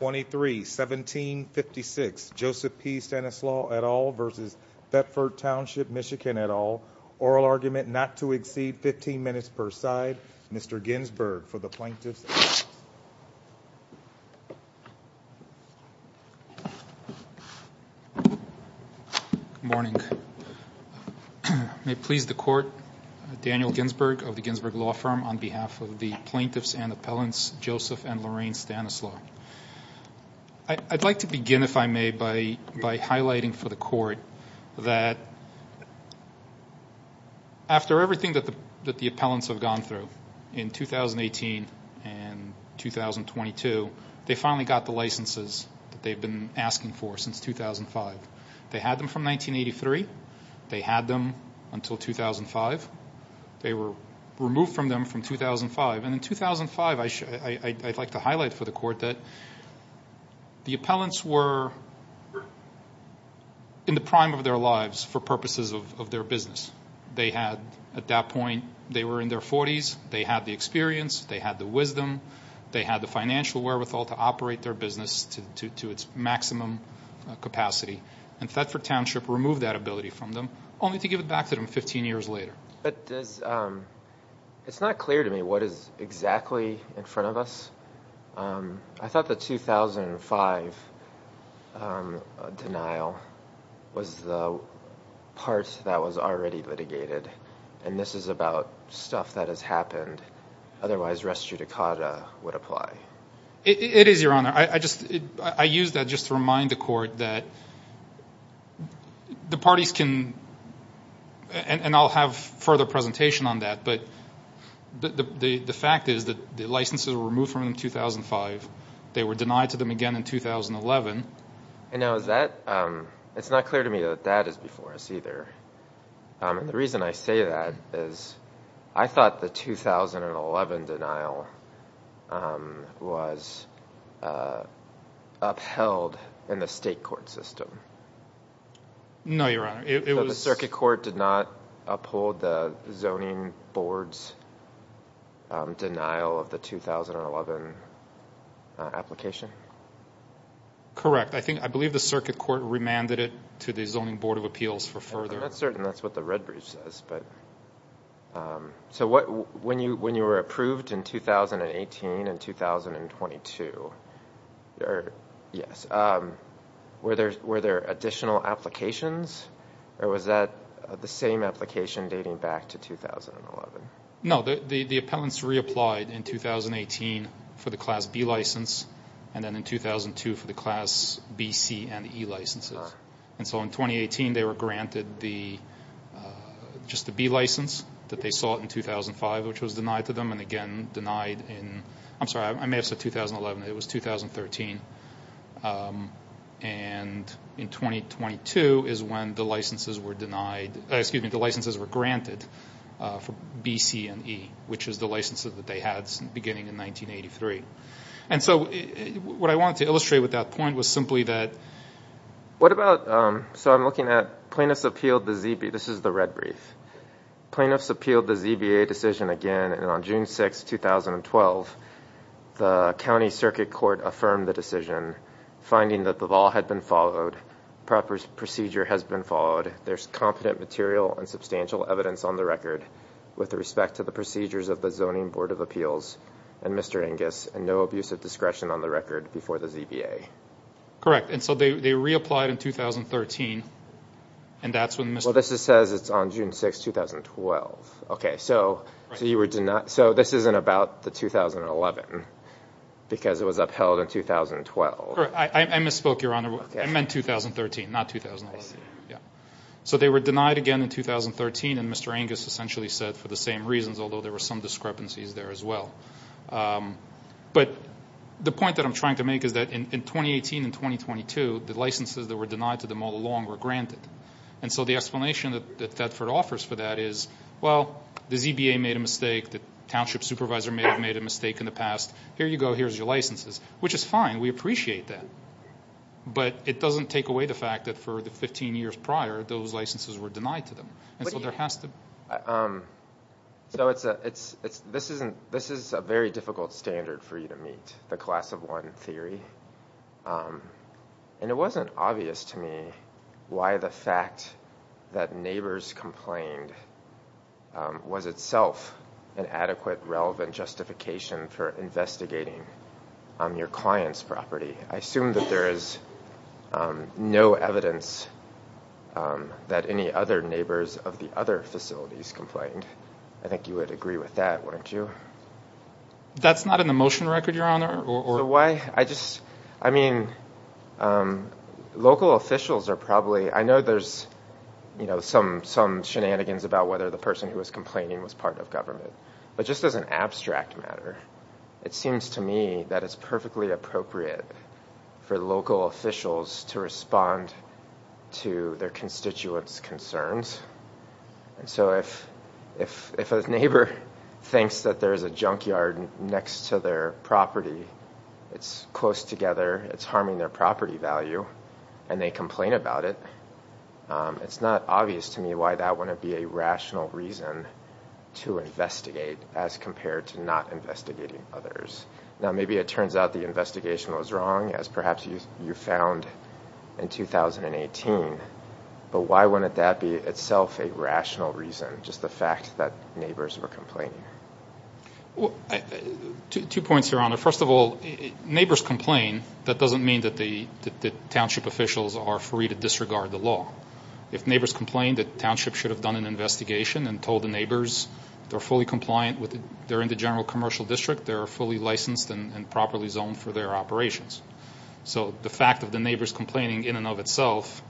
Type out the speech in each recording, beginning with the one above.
23-17-56 Joseph P. Stanislaw et al. v. Thetford Township MI et al. Oral argument not to exceed 15 minutes per side. Mr. Ginsberg for the Plaintiffs and Appellants. Joseph and Lorraine Stanislaw. I'd like to begin, if I may, by highlighting for the Court that after everything that the Appellants have gone through in 2018 and 2022, they finally got the licenses that they've been asking for since 2005. They had them from 1983. They had them until 2005. They were removed from them from 2005. And in 2005, I'd like to highlight for the Court that the Appellants were in the prime of their lives for purposes of their business. At that point, they were in their 40s. They had the experience. They had the wisdom. They had the financial wherewithal to operate their business to its maximum capacity. And Thetford Township removed that ability from them, only to give it back to them 15 years later. But it's not clear to me what is exactly in front of us. I thought the 2005 denial was the part that was already litigated. And this is about stuff that has happened. Otherwise, res judicata would apply. It is, Your Honor. I use that just to remind the Court that the parties can – and I'll have further presentation on that – but the fact is that the licenses were removed from them in 2005. They were denied to them again in 2011. And now is that – it's not clear to me that that is before us either. And the reason I say that is I thought the 2011 denial was upheld in the state court system. No, Your Honor. It was – The circuit court did not uphold the zoning board's denial of the 2011 application? Correct. I think – I believe the circuit court remanded it to the zoning board of appeals for further – I'm not certain that's what the Redbridge says. So when you were approved in 2018 and 2022, were there additional applications? Or was that the same application dating back to 2011? No. The appellants reapplied in 2018 for the Class B license and then in 2002 for the Class B, C, and E licenses. And so in 2018, they were granted the – just the B license that they sought in 2005, which was denied to them and again denied in – I'm sorry. I may have said 2011. It was 2013. And in 2022 is when the licenses were denied – excuse me, the licenses were granted for B, C, and E, which is the licenses that they had beginning in 1983. And so what I wanted to illustrate with that point was simply that – So I'm looking at plaintiffs appealed the – this is the red brief. Plaintiffs appealed the ZBA decision again and on June 6, 2012, the county circuit court affirmed the decision, finding that the law had been followed, proper procedure has been followed, there's competent material and substantial evidence on the record with respect to the procedures of the zoning board of appeals and Mr. Angus, and no abuse of discretion on the record before the ZBA. Correct. And so they reapplied in 2013 and that's when Mr. – Well, this says it's on June 6, 2012. Okay. So you were – so this isn't about the 2011 because it was upheld in 2012. Correct. I misspoke, Your Honor. I meant 2013, not 2011. I see. Yeah. So they were denied again in 2013 and Mr. Angus essentially said for the same reasons, although there were some discrepancies there as well. But the point that I'm trying to make is that in 2018 and 2022, the licenses that were denied to them all along were granted. And so the explanation that Thetford offers for that is, well, the ZBA made a mistake, the township supervisor may have made a mistake in the past. Here you go. Here's your licenses, which is fine. We appreciate that. But it doesn't take away the fact that for the 15 years prior, those licenses were denied to them. So this is a very difficult standard for you to meet, the class of one theory. And it wasn't obvious to me why the fact that neighbors complained was itself an adequate, relevant justification for investigating your client's property. I assume that there is no evidence that any other neighbors of the other facilities complained. I think you would agree with that, wouldn't you? That's not in the motion record, Your Honor? So why? I just, I mean, local officials are probably, I know there's some shenanigans about whether the person who was complaining was part of government. But just as an abstract matter, it seems to me that it's perfectly appropriate for local officials to respond to their constituents' concerns. And so if a neighbor thinks that there is a junkyard next to their property, it's close together, it's harming their property value, and they complain about it, it's not obvious to me why that wouldn't be a rational reason to investigate as compared to not investigating others. Now, maybe it turns out the investigation was wrong, as perhaps you found in 2018. But why wouldn't that be itself a rational reason, just the fact that neighbors were complaining? Two points, Your Honor. First of all, neighbors complain, that doesn't mean that the township officials are free to disregard the law. If neighbors complain, the township should have done an investigation and told the neighbors they're fully compliant, they're in the general commercial district, they're fully licensed and properly zoned for their operations. So the fact of the neighbors complaining in and of itself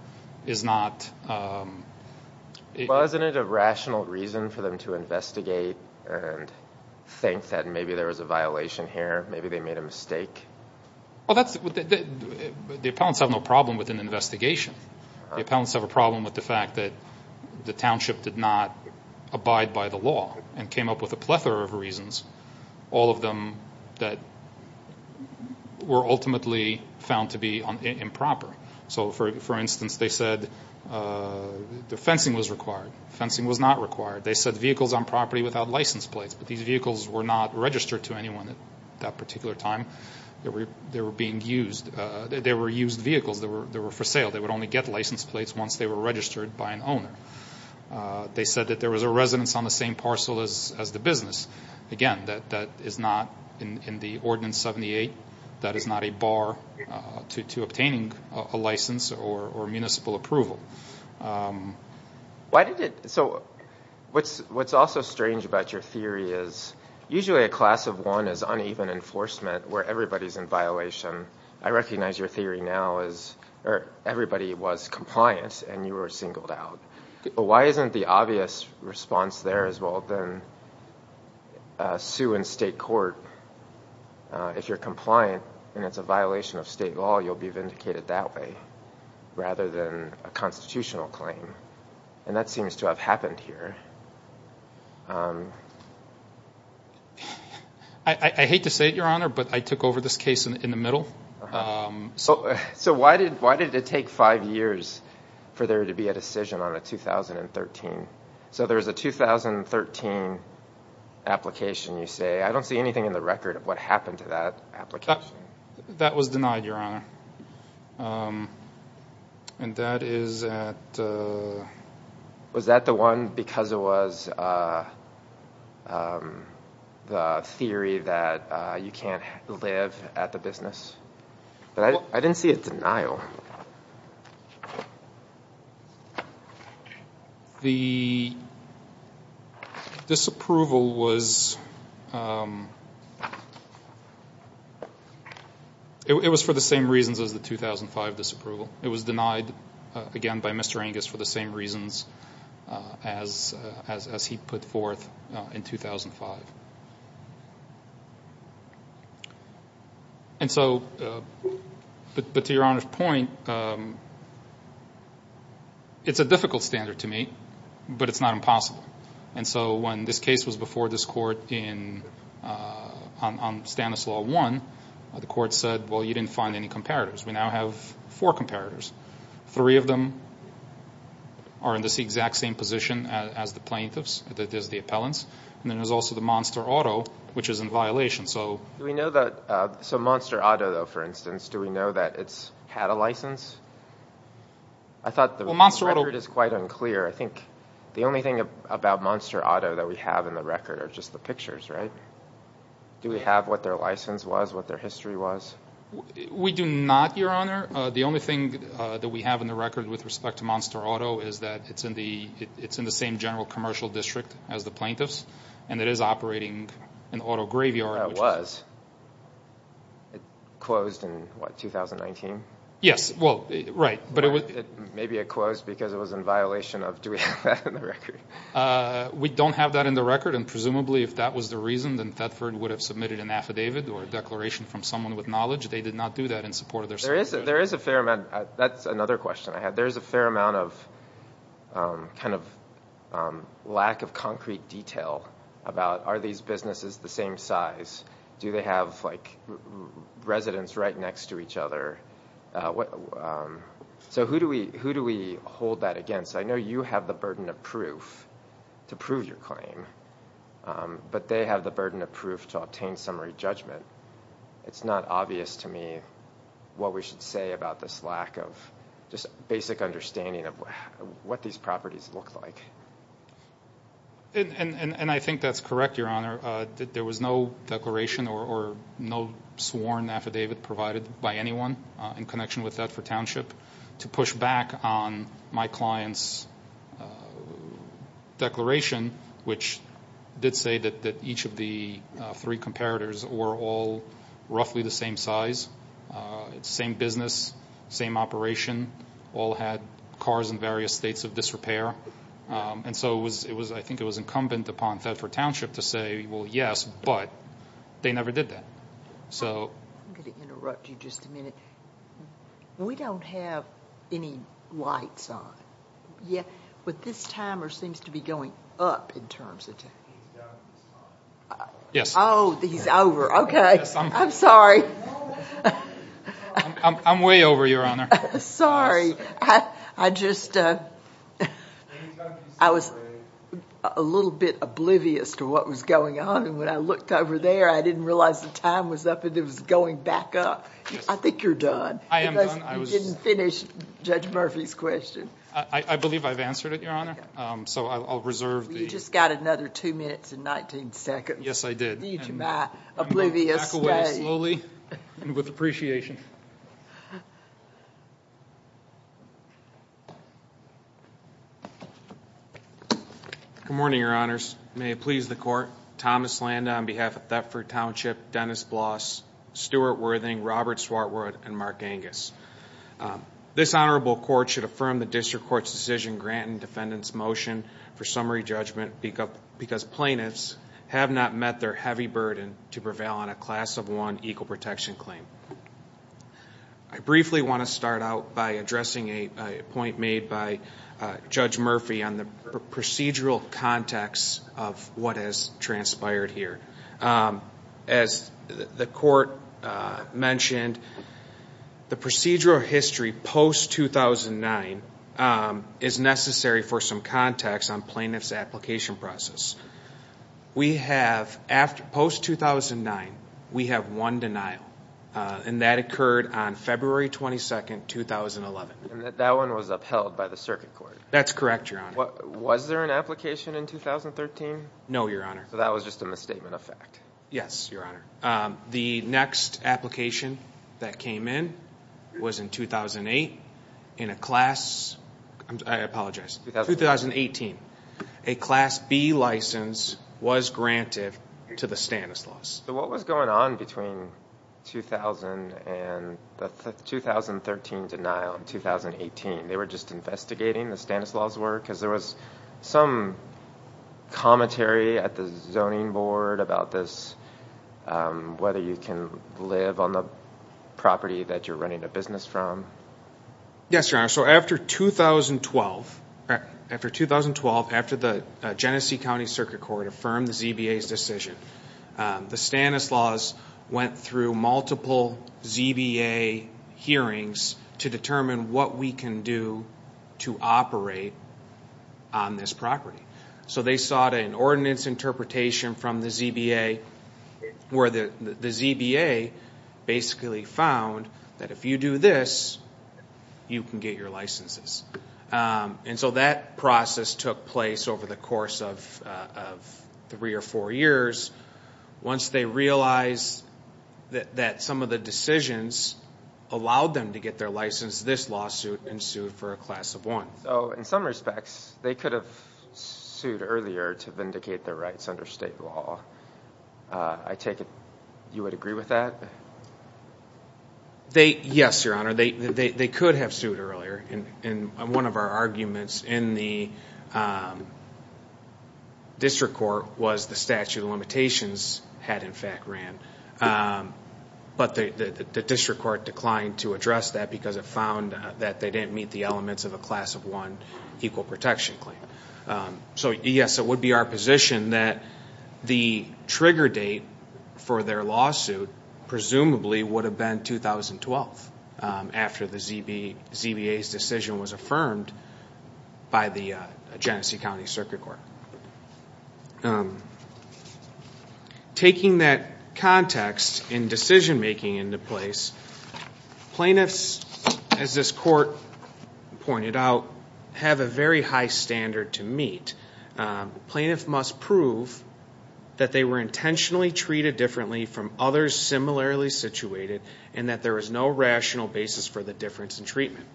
is not... Well, isn't it a rational reason for them to investigate and think that maybe there was a violation here, maybe they made a mistake? The appellants have no problem with an investigation. The appellants have a problem with the fact that the township did not abide by the law and came up with a plethora of reasons, all of them that were ultimately found to be improper. So, for instance, they said the fencing was required, fencing was not required. They said vehicles on property without license plates, but these vehicles were not registered to anyone at that particular time. They were used vehicles that were for sale. They would only get license plates once they were registered by an owner. They said that there was a residence on the same parcel as the business. Again, that is not in the Ordinance 78. That is not a bar to obtaining a license or municipal approval. So what's also strange about your theory is usually a class of one is uneven enforcement where everybody's in violation. I recognize your theory now is everybody was compliant and you were singled out. But why isn't the obvious response there as well than sue in state court? If you're compliant and it's a violation of state law, you'll be vindicated that way rather than a constitutional claim. And that seems to have happened here. I hate to say it, Your Honor, but I took over this case in the middle. So why did it take five years for there to be a decision on a 2013? So there's a 2013 application, you say. I don't see anything in the record of what happened to that application. That was denied, Your Honor. And that is at... Was that the one because it was the theory that you can't live at the business? I didn't see a denial. The disapproval was... It was for the same reasons as the 2005 disapproval. It was denied, again, by Mr. Angus for the same reasons as he put forth in 2005. But to Your Honor's point, it's a difficult standard to meet, but it's not impossible. And so when this case was before this court on Stanislaw I, the court said, well, you didn't find any comparators. We now have four comparators. Three of them are in this exact same position as the plaintiffs, as the appellants. And then there's also the Monster Auto, which is in violation. So Monster Auto, though, for instance, do we know that it's had a license? I thought the record is quite unclear. I think the only thing about Monster Auto that we have in the record are just the pictures, right? Do we have what their license was, what their history was? We do not, Your Honor. The only thing that we have in the record with respect to Monster Auto is that it's in the same general commercial district as the plaintiffs. And it is operating an auto graveyard. It was. It closed in, what, 2019? Yes. Well, right. Maybe it closed because it was in violation of, do we have that in the record? We don't have that in the record. And presumably if that was the reason, then Thetford would have submitted an affidavit or a declaration from someone with knowledge. They did not do that in support of their certification. There is a fair amount. That's another question I had. There is a fair amount of kind of lack of concrete detail about are these businesses the same size? Do they have, like, residents right next to each other? So who do we hold that against? I know you have the burden of proof to prove your claim, but they have the burden of proof to obtain summary judgment. It's not obvious to me what we should say about this lack of just basic understanding of what these properties look like. And I think that's correct, Your Honor. There was no declaration or no sworn affidavit provided by anyone in connection with Thetford Township to push back on my client's declaration, which did say that each of the three comparators were all roughly the same size, same business, same operation, all had cars in various states of disrepair. And so I think it was incumbent upon Thetford Township to say, well, yes, but they never did that. I'm going to interrupt you just a minute. We don't have any lights on. But this timer seems to be going up in terms of time. Oh, he's over. Okay. I'm sorry. I'm way over, Your Honor. Sorry. I just, I was a little bit oblivious to what was going on. And when I looked over there, I didn't realize the time was up and it was going back up. I think you're done. I am done. You didn't finish Judge Murphy's question. I believe I've answered it, Your Honor. So I'll reserve the- You just got another two minutes and 19 seconds. Yes, I did. My oblivious day. I'm going to back away slowly and with appreciation. Good morning, Your Honors. May it please the Court. Thomas Landa on behalf of Thetford Township, Dennis Bloss, Stuart Worthing, Robert Swartwood, and Mark Angus. This Honorable Court should affirm the District Court's decision granting defendant's motion for summary judgment because plaintiffs have not met their heavy burden to prevail on a class of one equal protection claim. I briefly want to start out by addressing a point made by Judge Murphy on the procedural context of what has transpired here. As the Court mentioned, the procedural history post-2009 is necessary for some context on plaintiff's application process. Post-2009, we have one denial, and that occurred on February 22, 2011. That one was upheld by the Circuit Court. That's correct, Your Honor. Was there an application in 2013? No, Your Honor. So that was just a misstatement of fact. Yes, Your Honor. The next application that came in was in 2008. In a class, I apologize, 2018, a Class B license was granted to the Stanislaus. So what was going on between 2000 and the 2013 denial and 2018? They were just investigating the Stanislaus work? Because there was some commentary at the Zoning Board about this, whether you can live on the property that you're running a business from. Yes, Your Honor. So after 2012, after the Genesee County Circuit Court affirmed the ZBA's decision, the Stanislaus went through multiple ZBA hearings to determine what we can do to operate on this property. So they sought an ordinance interpretation from the ZBA, where the ZBA basically found that if you do this, you can get your licenses. And so that process took place over the course of three or four years. Once they realized that some of the decisions allowed them to get their license, this lawsuit ensued for a Class of 1. So in some respects, they could have sued earlier to vindicate their rights under state law. I take it you would agree with that? Yes, Your Honor. They could have sued earlier. And one of our arguments in the district court was the statute of limitations had in fact ran. But the district court declined to address that because it found that they didn't meet the elements of a Class of 1 equal protection claim. So, yes, it would be our position that the trigger date for their lawsuit presumably would have been 2012, after the ZBA's decision was affirmed by the Genesee County Circuit Court. Now, taking that context in decision-making into place, plaintiffs, as this court pointed out, have a very high standard to meet. Plaintiff must prove that they were intentionally treated differently from others similarly situated and that there is no rational basis for the difference in treatment.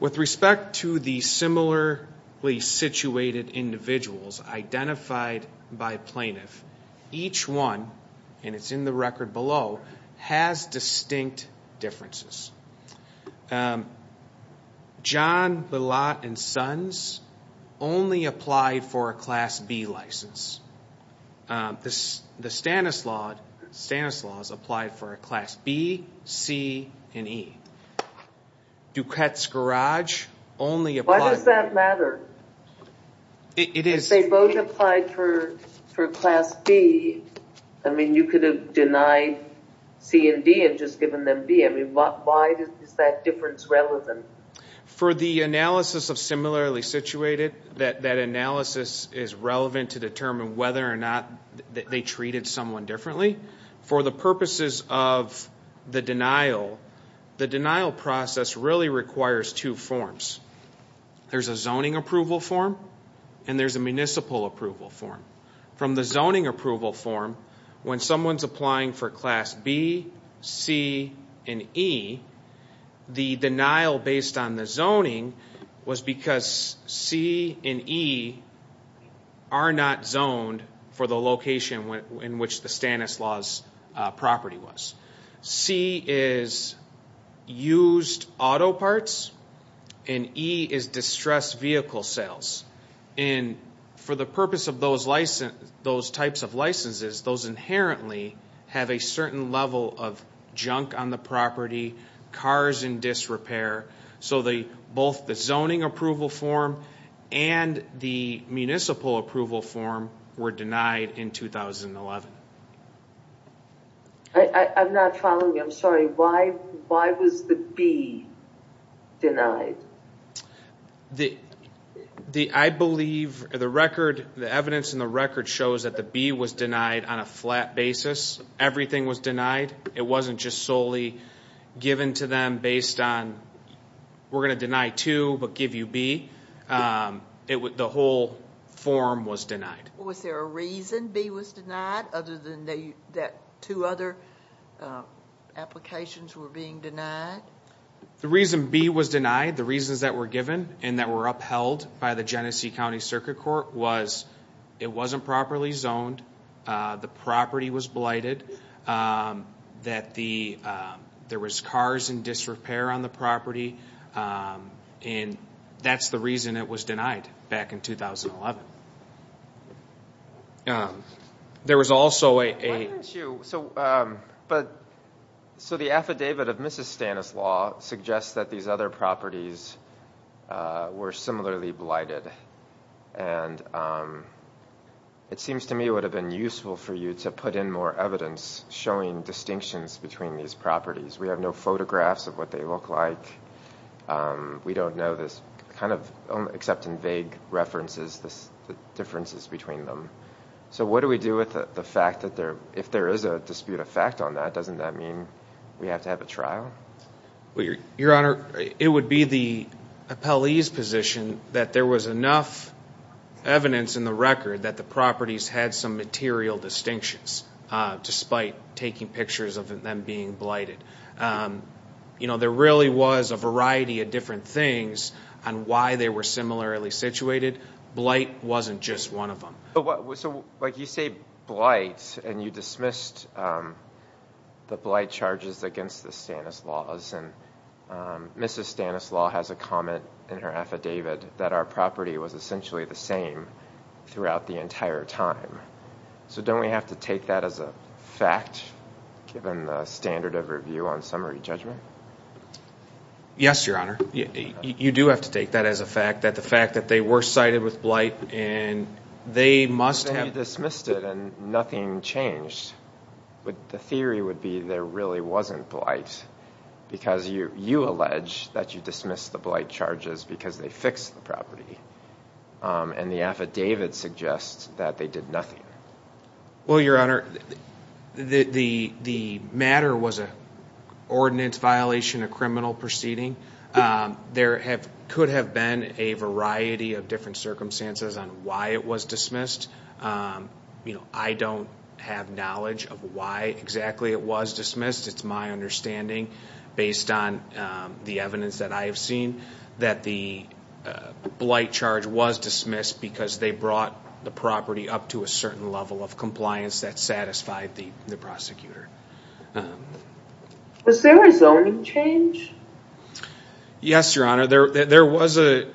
With respect to the similarly situated individuals identified by plaintiff, each one, and it's in the record below, has distinct differences. John, Bilat, and Sons only applied for a Class B license. The Stanislaus applied for a Class B, C, and E. Duquette's Garage only applied for- Why does that matter? It is- If they both applied for Class B, I mean, you could have denied C and D and just given them B. I mean, why is that difference relevant? For the analysis of similarly situated, that analysis is relevant to determine whether or not they treated someone differently. For the purposes of the denial, the denial process really requires two forms. There's a zoning approval form and there's a municipal approval form. From the zoning approval form, when someone's applying for Class B, C, and E, the denial based on the zoning was because C and E are not zoned for the location in which the Stanislaus property was. C is used auto parts and E is distressed vehicle sales. For the purpose of those types of licenses, those inherently have a certain level of junk on the property, cars in disrepair, so both the zoning approval form and the municipal approval form were denied in 2011. I'm not following. I'm sorry. Why was the B denied? I believe the record, the evidence in the record shows that the B was denied on a flat basis. Everything was denied. It wasn't just solely given to them based on we're going to deny two but give you B. The whole form was denied. Was there a reason B was denied other than that two other applications were being denied? The reason B was denied, the reasons that were given and that were upheld by the Genesee County Circuit Court, was it wasn't properly zoned, the property was blighted, that there was cars in disrepair on the property, and that's the reason it was denied back in 2011. Why didn't you, so the affidavit of Mrs. Stanislaw suggests that these other properties were similarly blighted, and it seems to me it would have been useful for you to put in more evidence showing distinctions between these properties. We have no photographs of what they look like. We don't know this except in vague references, the differences between them. So what do we do with the fact that if there is a dispute of fact on that, doesn't that mean we have to have a trial? Your Honor, it would be the appellee's position that there was enough evidence in the record that the properties had some material distinctions despite taking pictures of them being blighted. There really was a variety of different things on why they were similarly situated. Blight wasn't just one of them. So you say blight, and you dismissed the blight charges against the Stanislaws, and Mrs. Stanislaw has a comment in her affidavit that our property was essentially the same throughout the entire time. So don't we have to take that as a fact, given the standard of review on summary judgment? Yes, Your Honor. You do have to take that as a fact, that the fact that they were cited with blight, and they must have... So you dismissed it, and nothing changed. The theory would be there really wasn't blight, because you allege that you dismissed the blight charges because they fixed the property, and the affidavit suggests that they did nothing. Well, Your Honor, the matter was an ordinance violation, a criminal proceeding. There could have been a variety of different circumstances on why it was dismissed. I don't have knowledge of why exactly it was dismissed. It's my understanding, based on the evidence that I have seen, that the blight charge was dismissed because they brought the property up to a certain level of compliance that satisfied the prosecutor. Was there a zoning change? Yes, Your Honor, there was a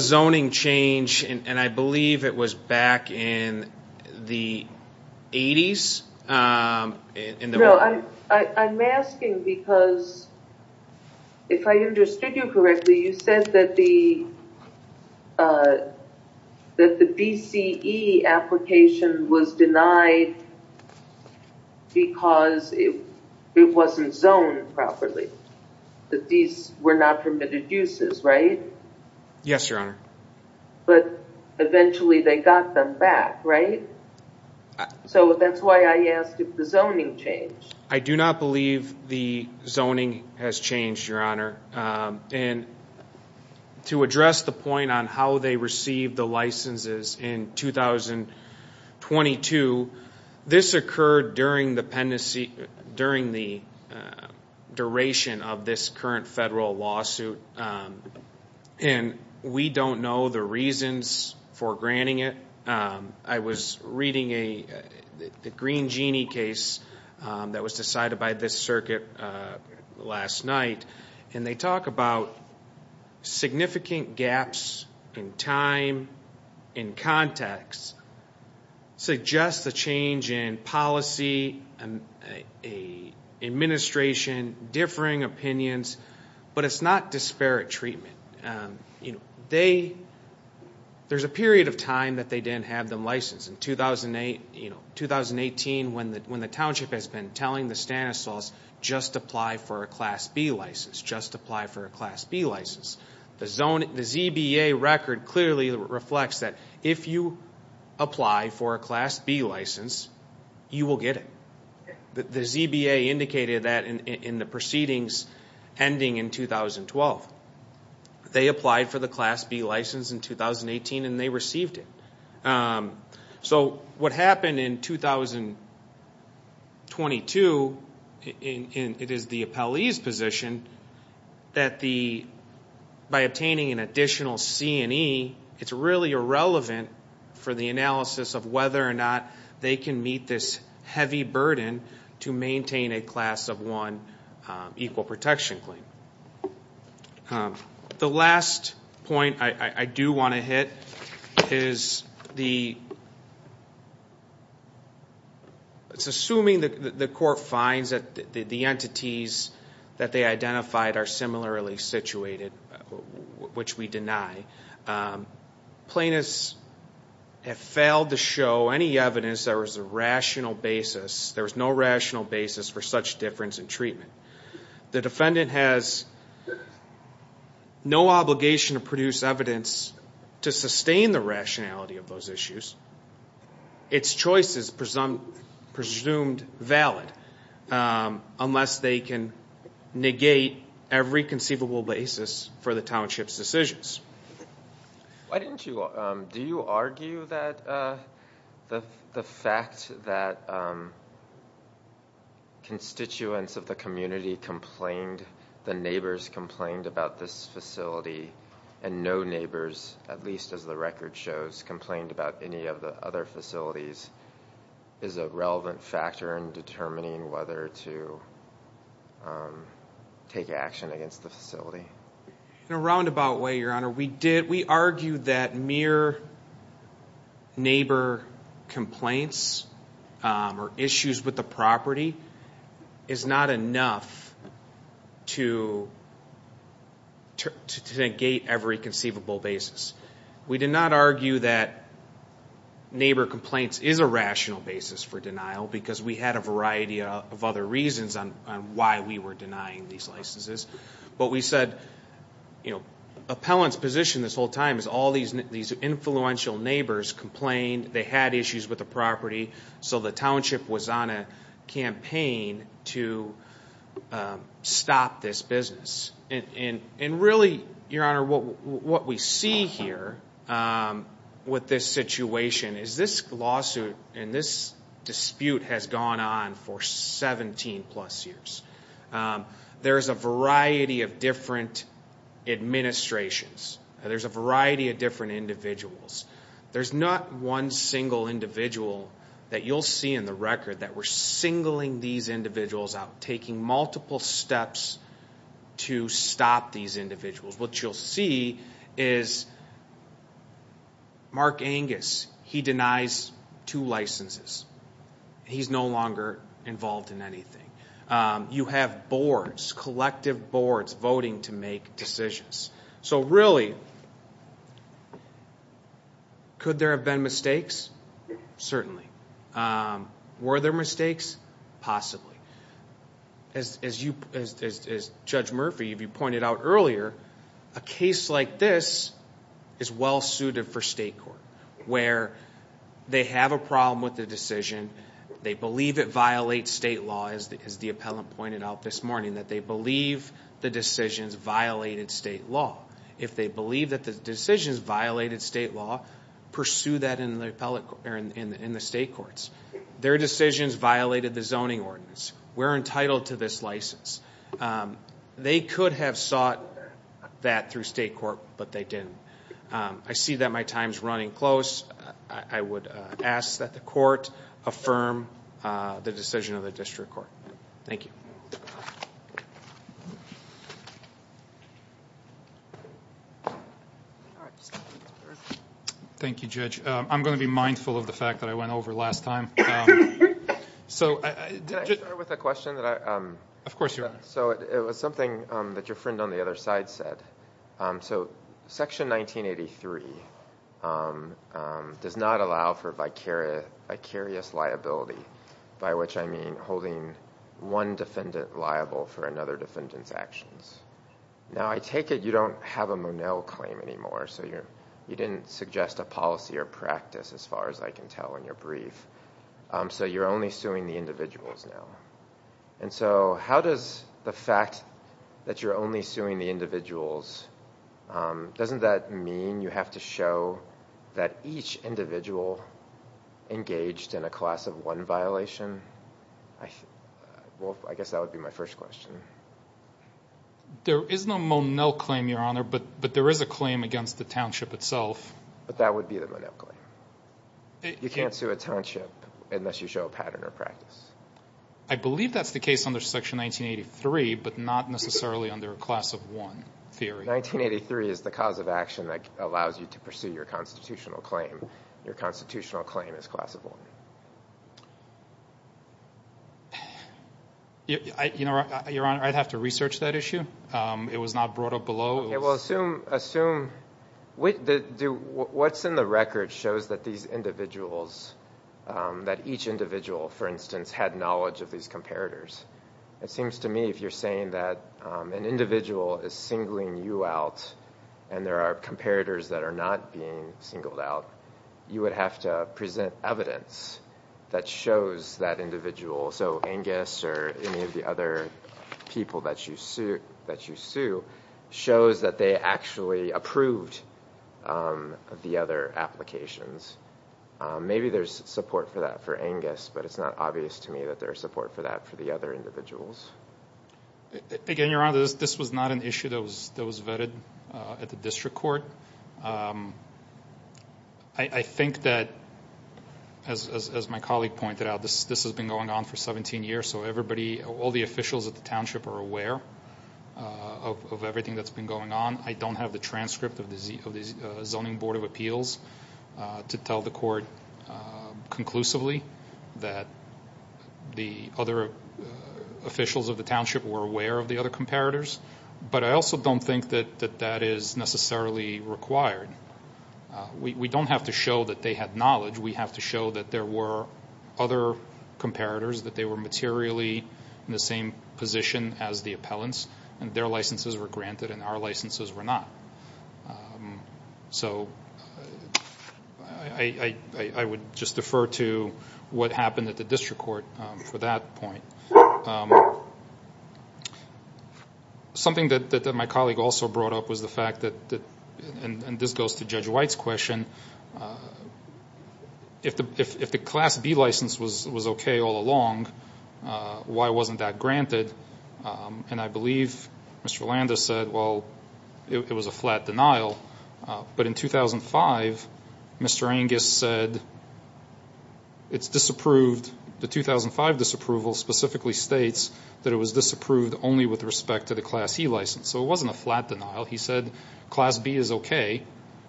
zoning change, and I believe it was back in the 80s. No, I'm asking because if I understood you correctly, you said that the DCE application was denied because it wasn't zoned properly, that these were not permitted uses, right? Yes, Your Honor. But eventually they got them back, right? So that's why I asked if the zoning changed. I do not believe the zoning has changed, Your Honor. And to address the point on how they received the licenses in 2022, this occurred during the duration of this current federal lawsuit, and we don't know the reasons for granting it. I was reading the Green Genie case that was decided by this circuit last night, and they talk about significant gaps in time, in context, suggests a change in policy, administration, differing opinions, but it's not disparate treatment. There's a period of time that they didn't have them licensed. In 2018, when the township has been telling the Stanislaus, just apply for a Class B license, just apply for a Class B license, the ZBA record clearly reflects that if you apply for a Class B license, you will get it. The ZBA indicated that in the proceedings ending in 2012. They applied for the Class B license in 2018, and they received it. So what happened in 2022, it is the appellee's position that by obtaining an additional C&E, it's really irrelevant for the analysis of whether or not they can meet this heavy burden to maintain a Class of 1 equal protection claim. The last point I do want to hit is the assuming that the court finds that the entities that they identified are similarly situated, which we deny. Plaintiffs have failed to show any evidence there was a rational basis, there was no rational basis for such difference in treatment. The defendant has no obligation to produce evidence to sustain the rationality of those issues. Its choice is presumed valid unless they can negate every conceivable basis for the township's decisions. Do you argue that the fact that constituents of the community complained, the neighbors complained about this facility, and no neighbors, at least as the record shows, complained about any of the other facilities is a relevant factor in determining whether to take action against the facility? In a roundabout way, Your Honor, we argued that mere neighbor complaints or issues with the property is not enough to negate every conceivable basis. We did not argue that neighbor complaints is a rational basis for denial because we had a variety of other reasons on why we were denying these licenses. But we said, you know, appellant's position this whole time is all these influential neighbors complained, they had issues with the property, so the township was on a campaign to stop this business. And really, Your Honor, what we see here with this situation is this lawsuit and this dispute has gone on for 17 plus years. There's a variety of different administrations. There's a variety of different individuals. There's not one single individual that you'll see in the record that we're singling these individuals out, taking multiple steps to stop these individuals. What you'll see is Mark Angus, he denies two licenses. He's no longer involved in anything. You have boards, collective boards voting to make decisions. So really, could there have been mistakes? Certainly. Were there mistakes? Possibly. As Judge Murphy, if you pointed out earlier, a case like this is well-suited for state court where they have a problem with the decision, they believe it violates state law, as the appellant pointed out this morning, that they believe the decisions violated state law. If they believe that the decisions violated state law, pursue that in the state courts. Their decisions violated the zoning ordinance. We're entitled to this license. They could have sought that through state court, but they didn't. I see that my time is running close. I would ask that the court affirm the decision of the district court. Thank you. Thank you, Judge. I'm going to be mindful of the fact that I went over last time. Can I start with a question? Of course you are. It was something that your friend on the other side said. Section 1983 does not allow for vicarious liability. By which I mean holding one defendant liable for another defendant's actions. I take it you don't have a Monell claim anymore. You didn't suggest a policy or practice as far as I can tell in your brief. You're only suing the individuals now. How does the fact that you're only suing the individuals, doesn't that mean you have to show that each individual engaged in a class of one violation? I guess that would be my first question. There is no Monell claim, Your Honor, but there is a claim against the township itself. That would be the Monell claim. You can't sue a township unless you show a pattern or practice. I believe that's the case under Section 1983, but not necessarily under a class of one theory. 1983 is the cause of action that allows you to pursue your constitutional claim. Your constitutional claim is class of one. Your Honor, I'd have to research that issue. It was not brought up below. What's in the record shows that each individual, for instance, had knowledge of these comparators. It seems to me if you're saying that an individual is singling you out and there are comparators that are not being singled out, you would have to present evidence that shows that individual. Angus or any of the other people that you sue shows that they actually approved the other applications. Maybe there's support for that for Angus, but it's not obvious to me that there's support for that for the other individuals. Again, Your Honor, this was not an issue that was vetted at the district court. I think that, as my colleague pointed out, this has been going on for 17 years, so all the officials at the township are aware of everything that's been going on. I don't have the transcript of the Zoning Board of Appeals to tell the court conclusively that the other officials of the township were aware of the other comparators, but I also don't think that that is necessarily required. We don't have to show that they had knowledge. We have to show that there were other comparators, that they were materially in the same position as the appellants, and their licenses were granted and our licenses were not. So I would just defer to what happened at the district court for that point. Something that my colleague also brought up was the fact that, and this goes to Judge White's question, if the Class B license was okay all along, why wasn't that granted? And I believe Mr. Landis said, well, it was a flat denial. But in 2005, Mr. Angus said it's disapproved. The 2005 disapproval specifically states that it was disapproved only with respect to the Class E license. So it wasn't a flat denial. He said Class B is okay.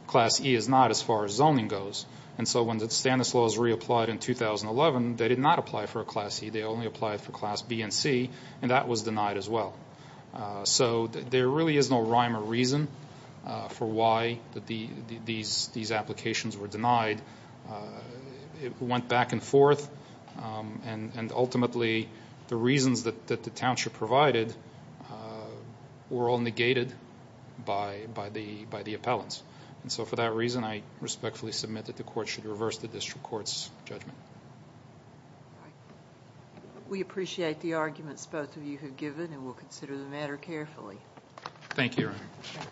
Class E is not as far as zoning goes. And so when the Stanislaus reapplied in 2011, they did not apply for a Class E. They only applied for Class B and C, and that was denied as well. So there really is no rhyme or reason for why these applications were denied. It went back and forth, and ultimately the reasons that the township provided were all negated by the appellants. And so for that reason, I respectfully submit that the court should reverse the district court's judgment. We appreciate the arguments both of you have given, and we'll consider the matter carefully. Thank you, Your Honor.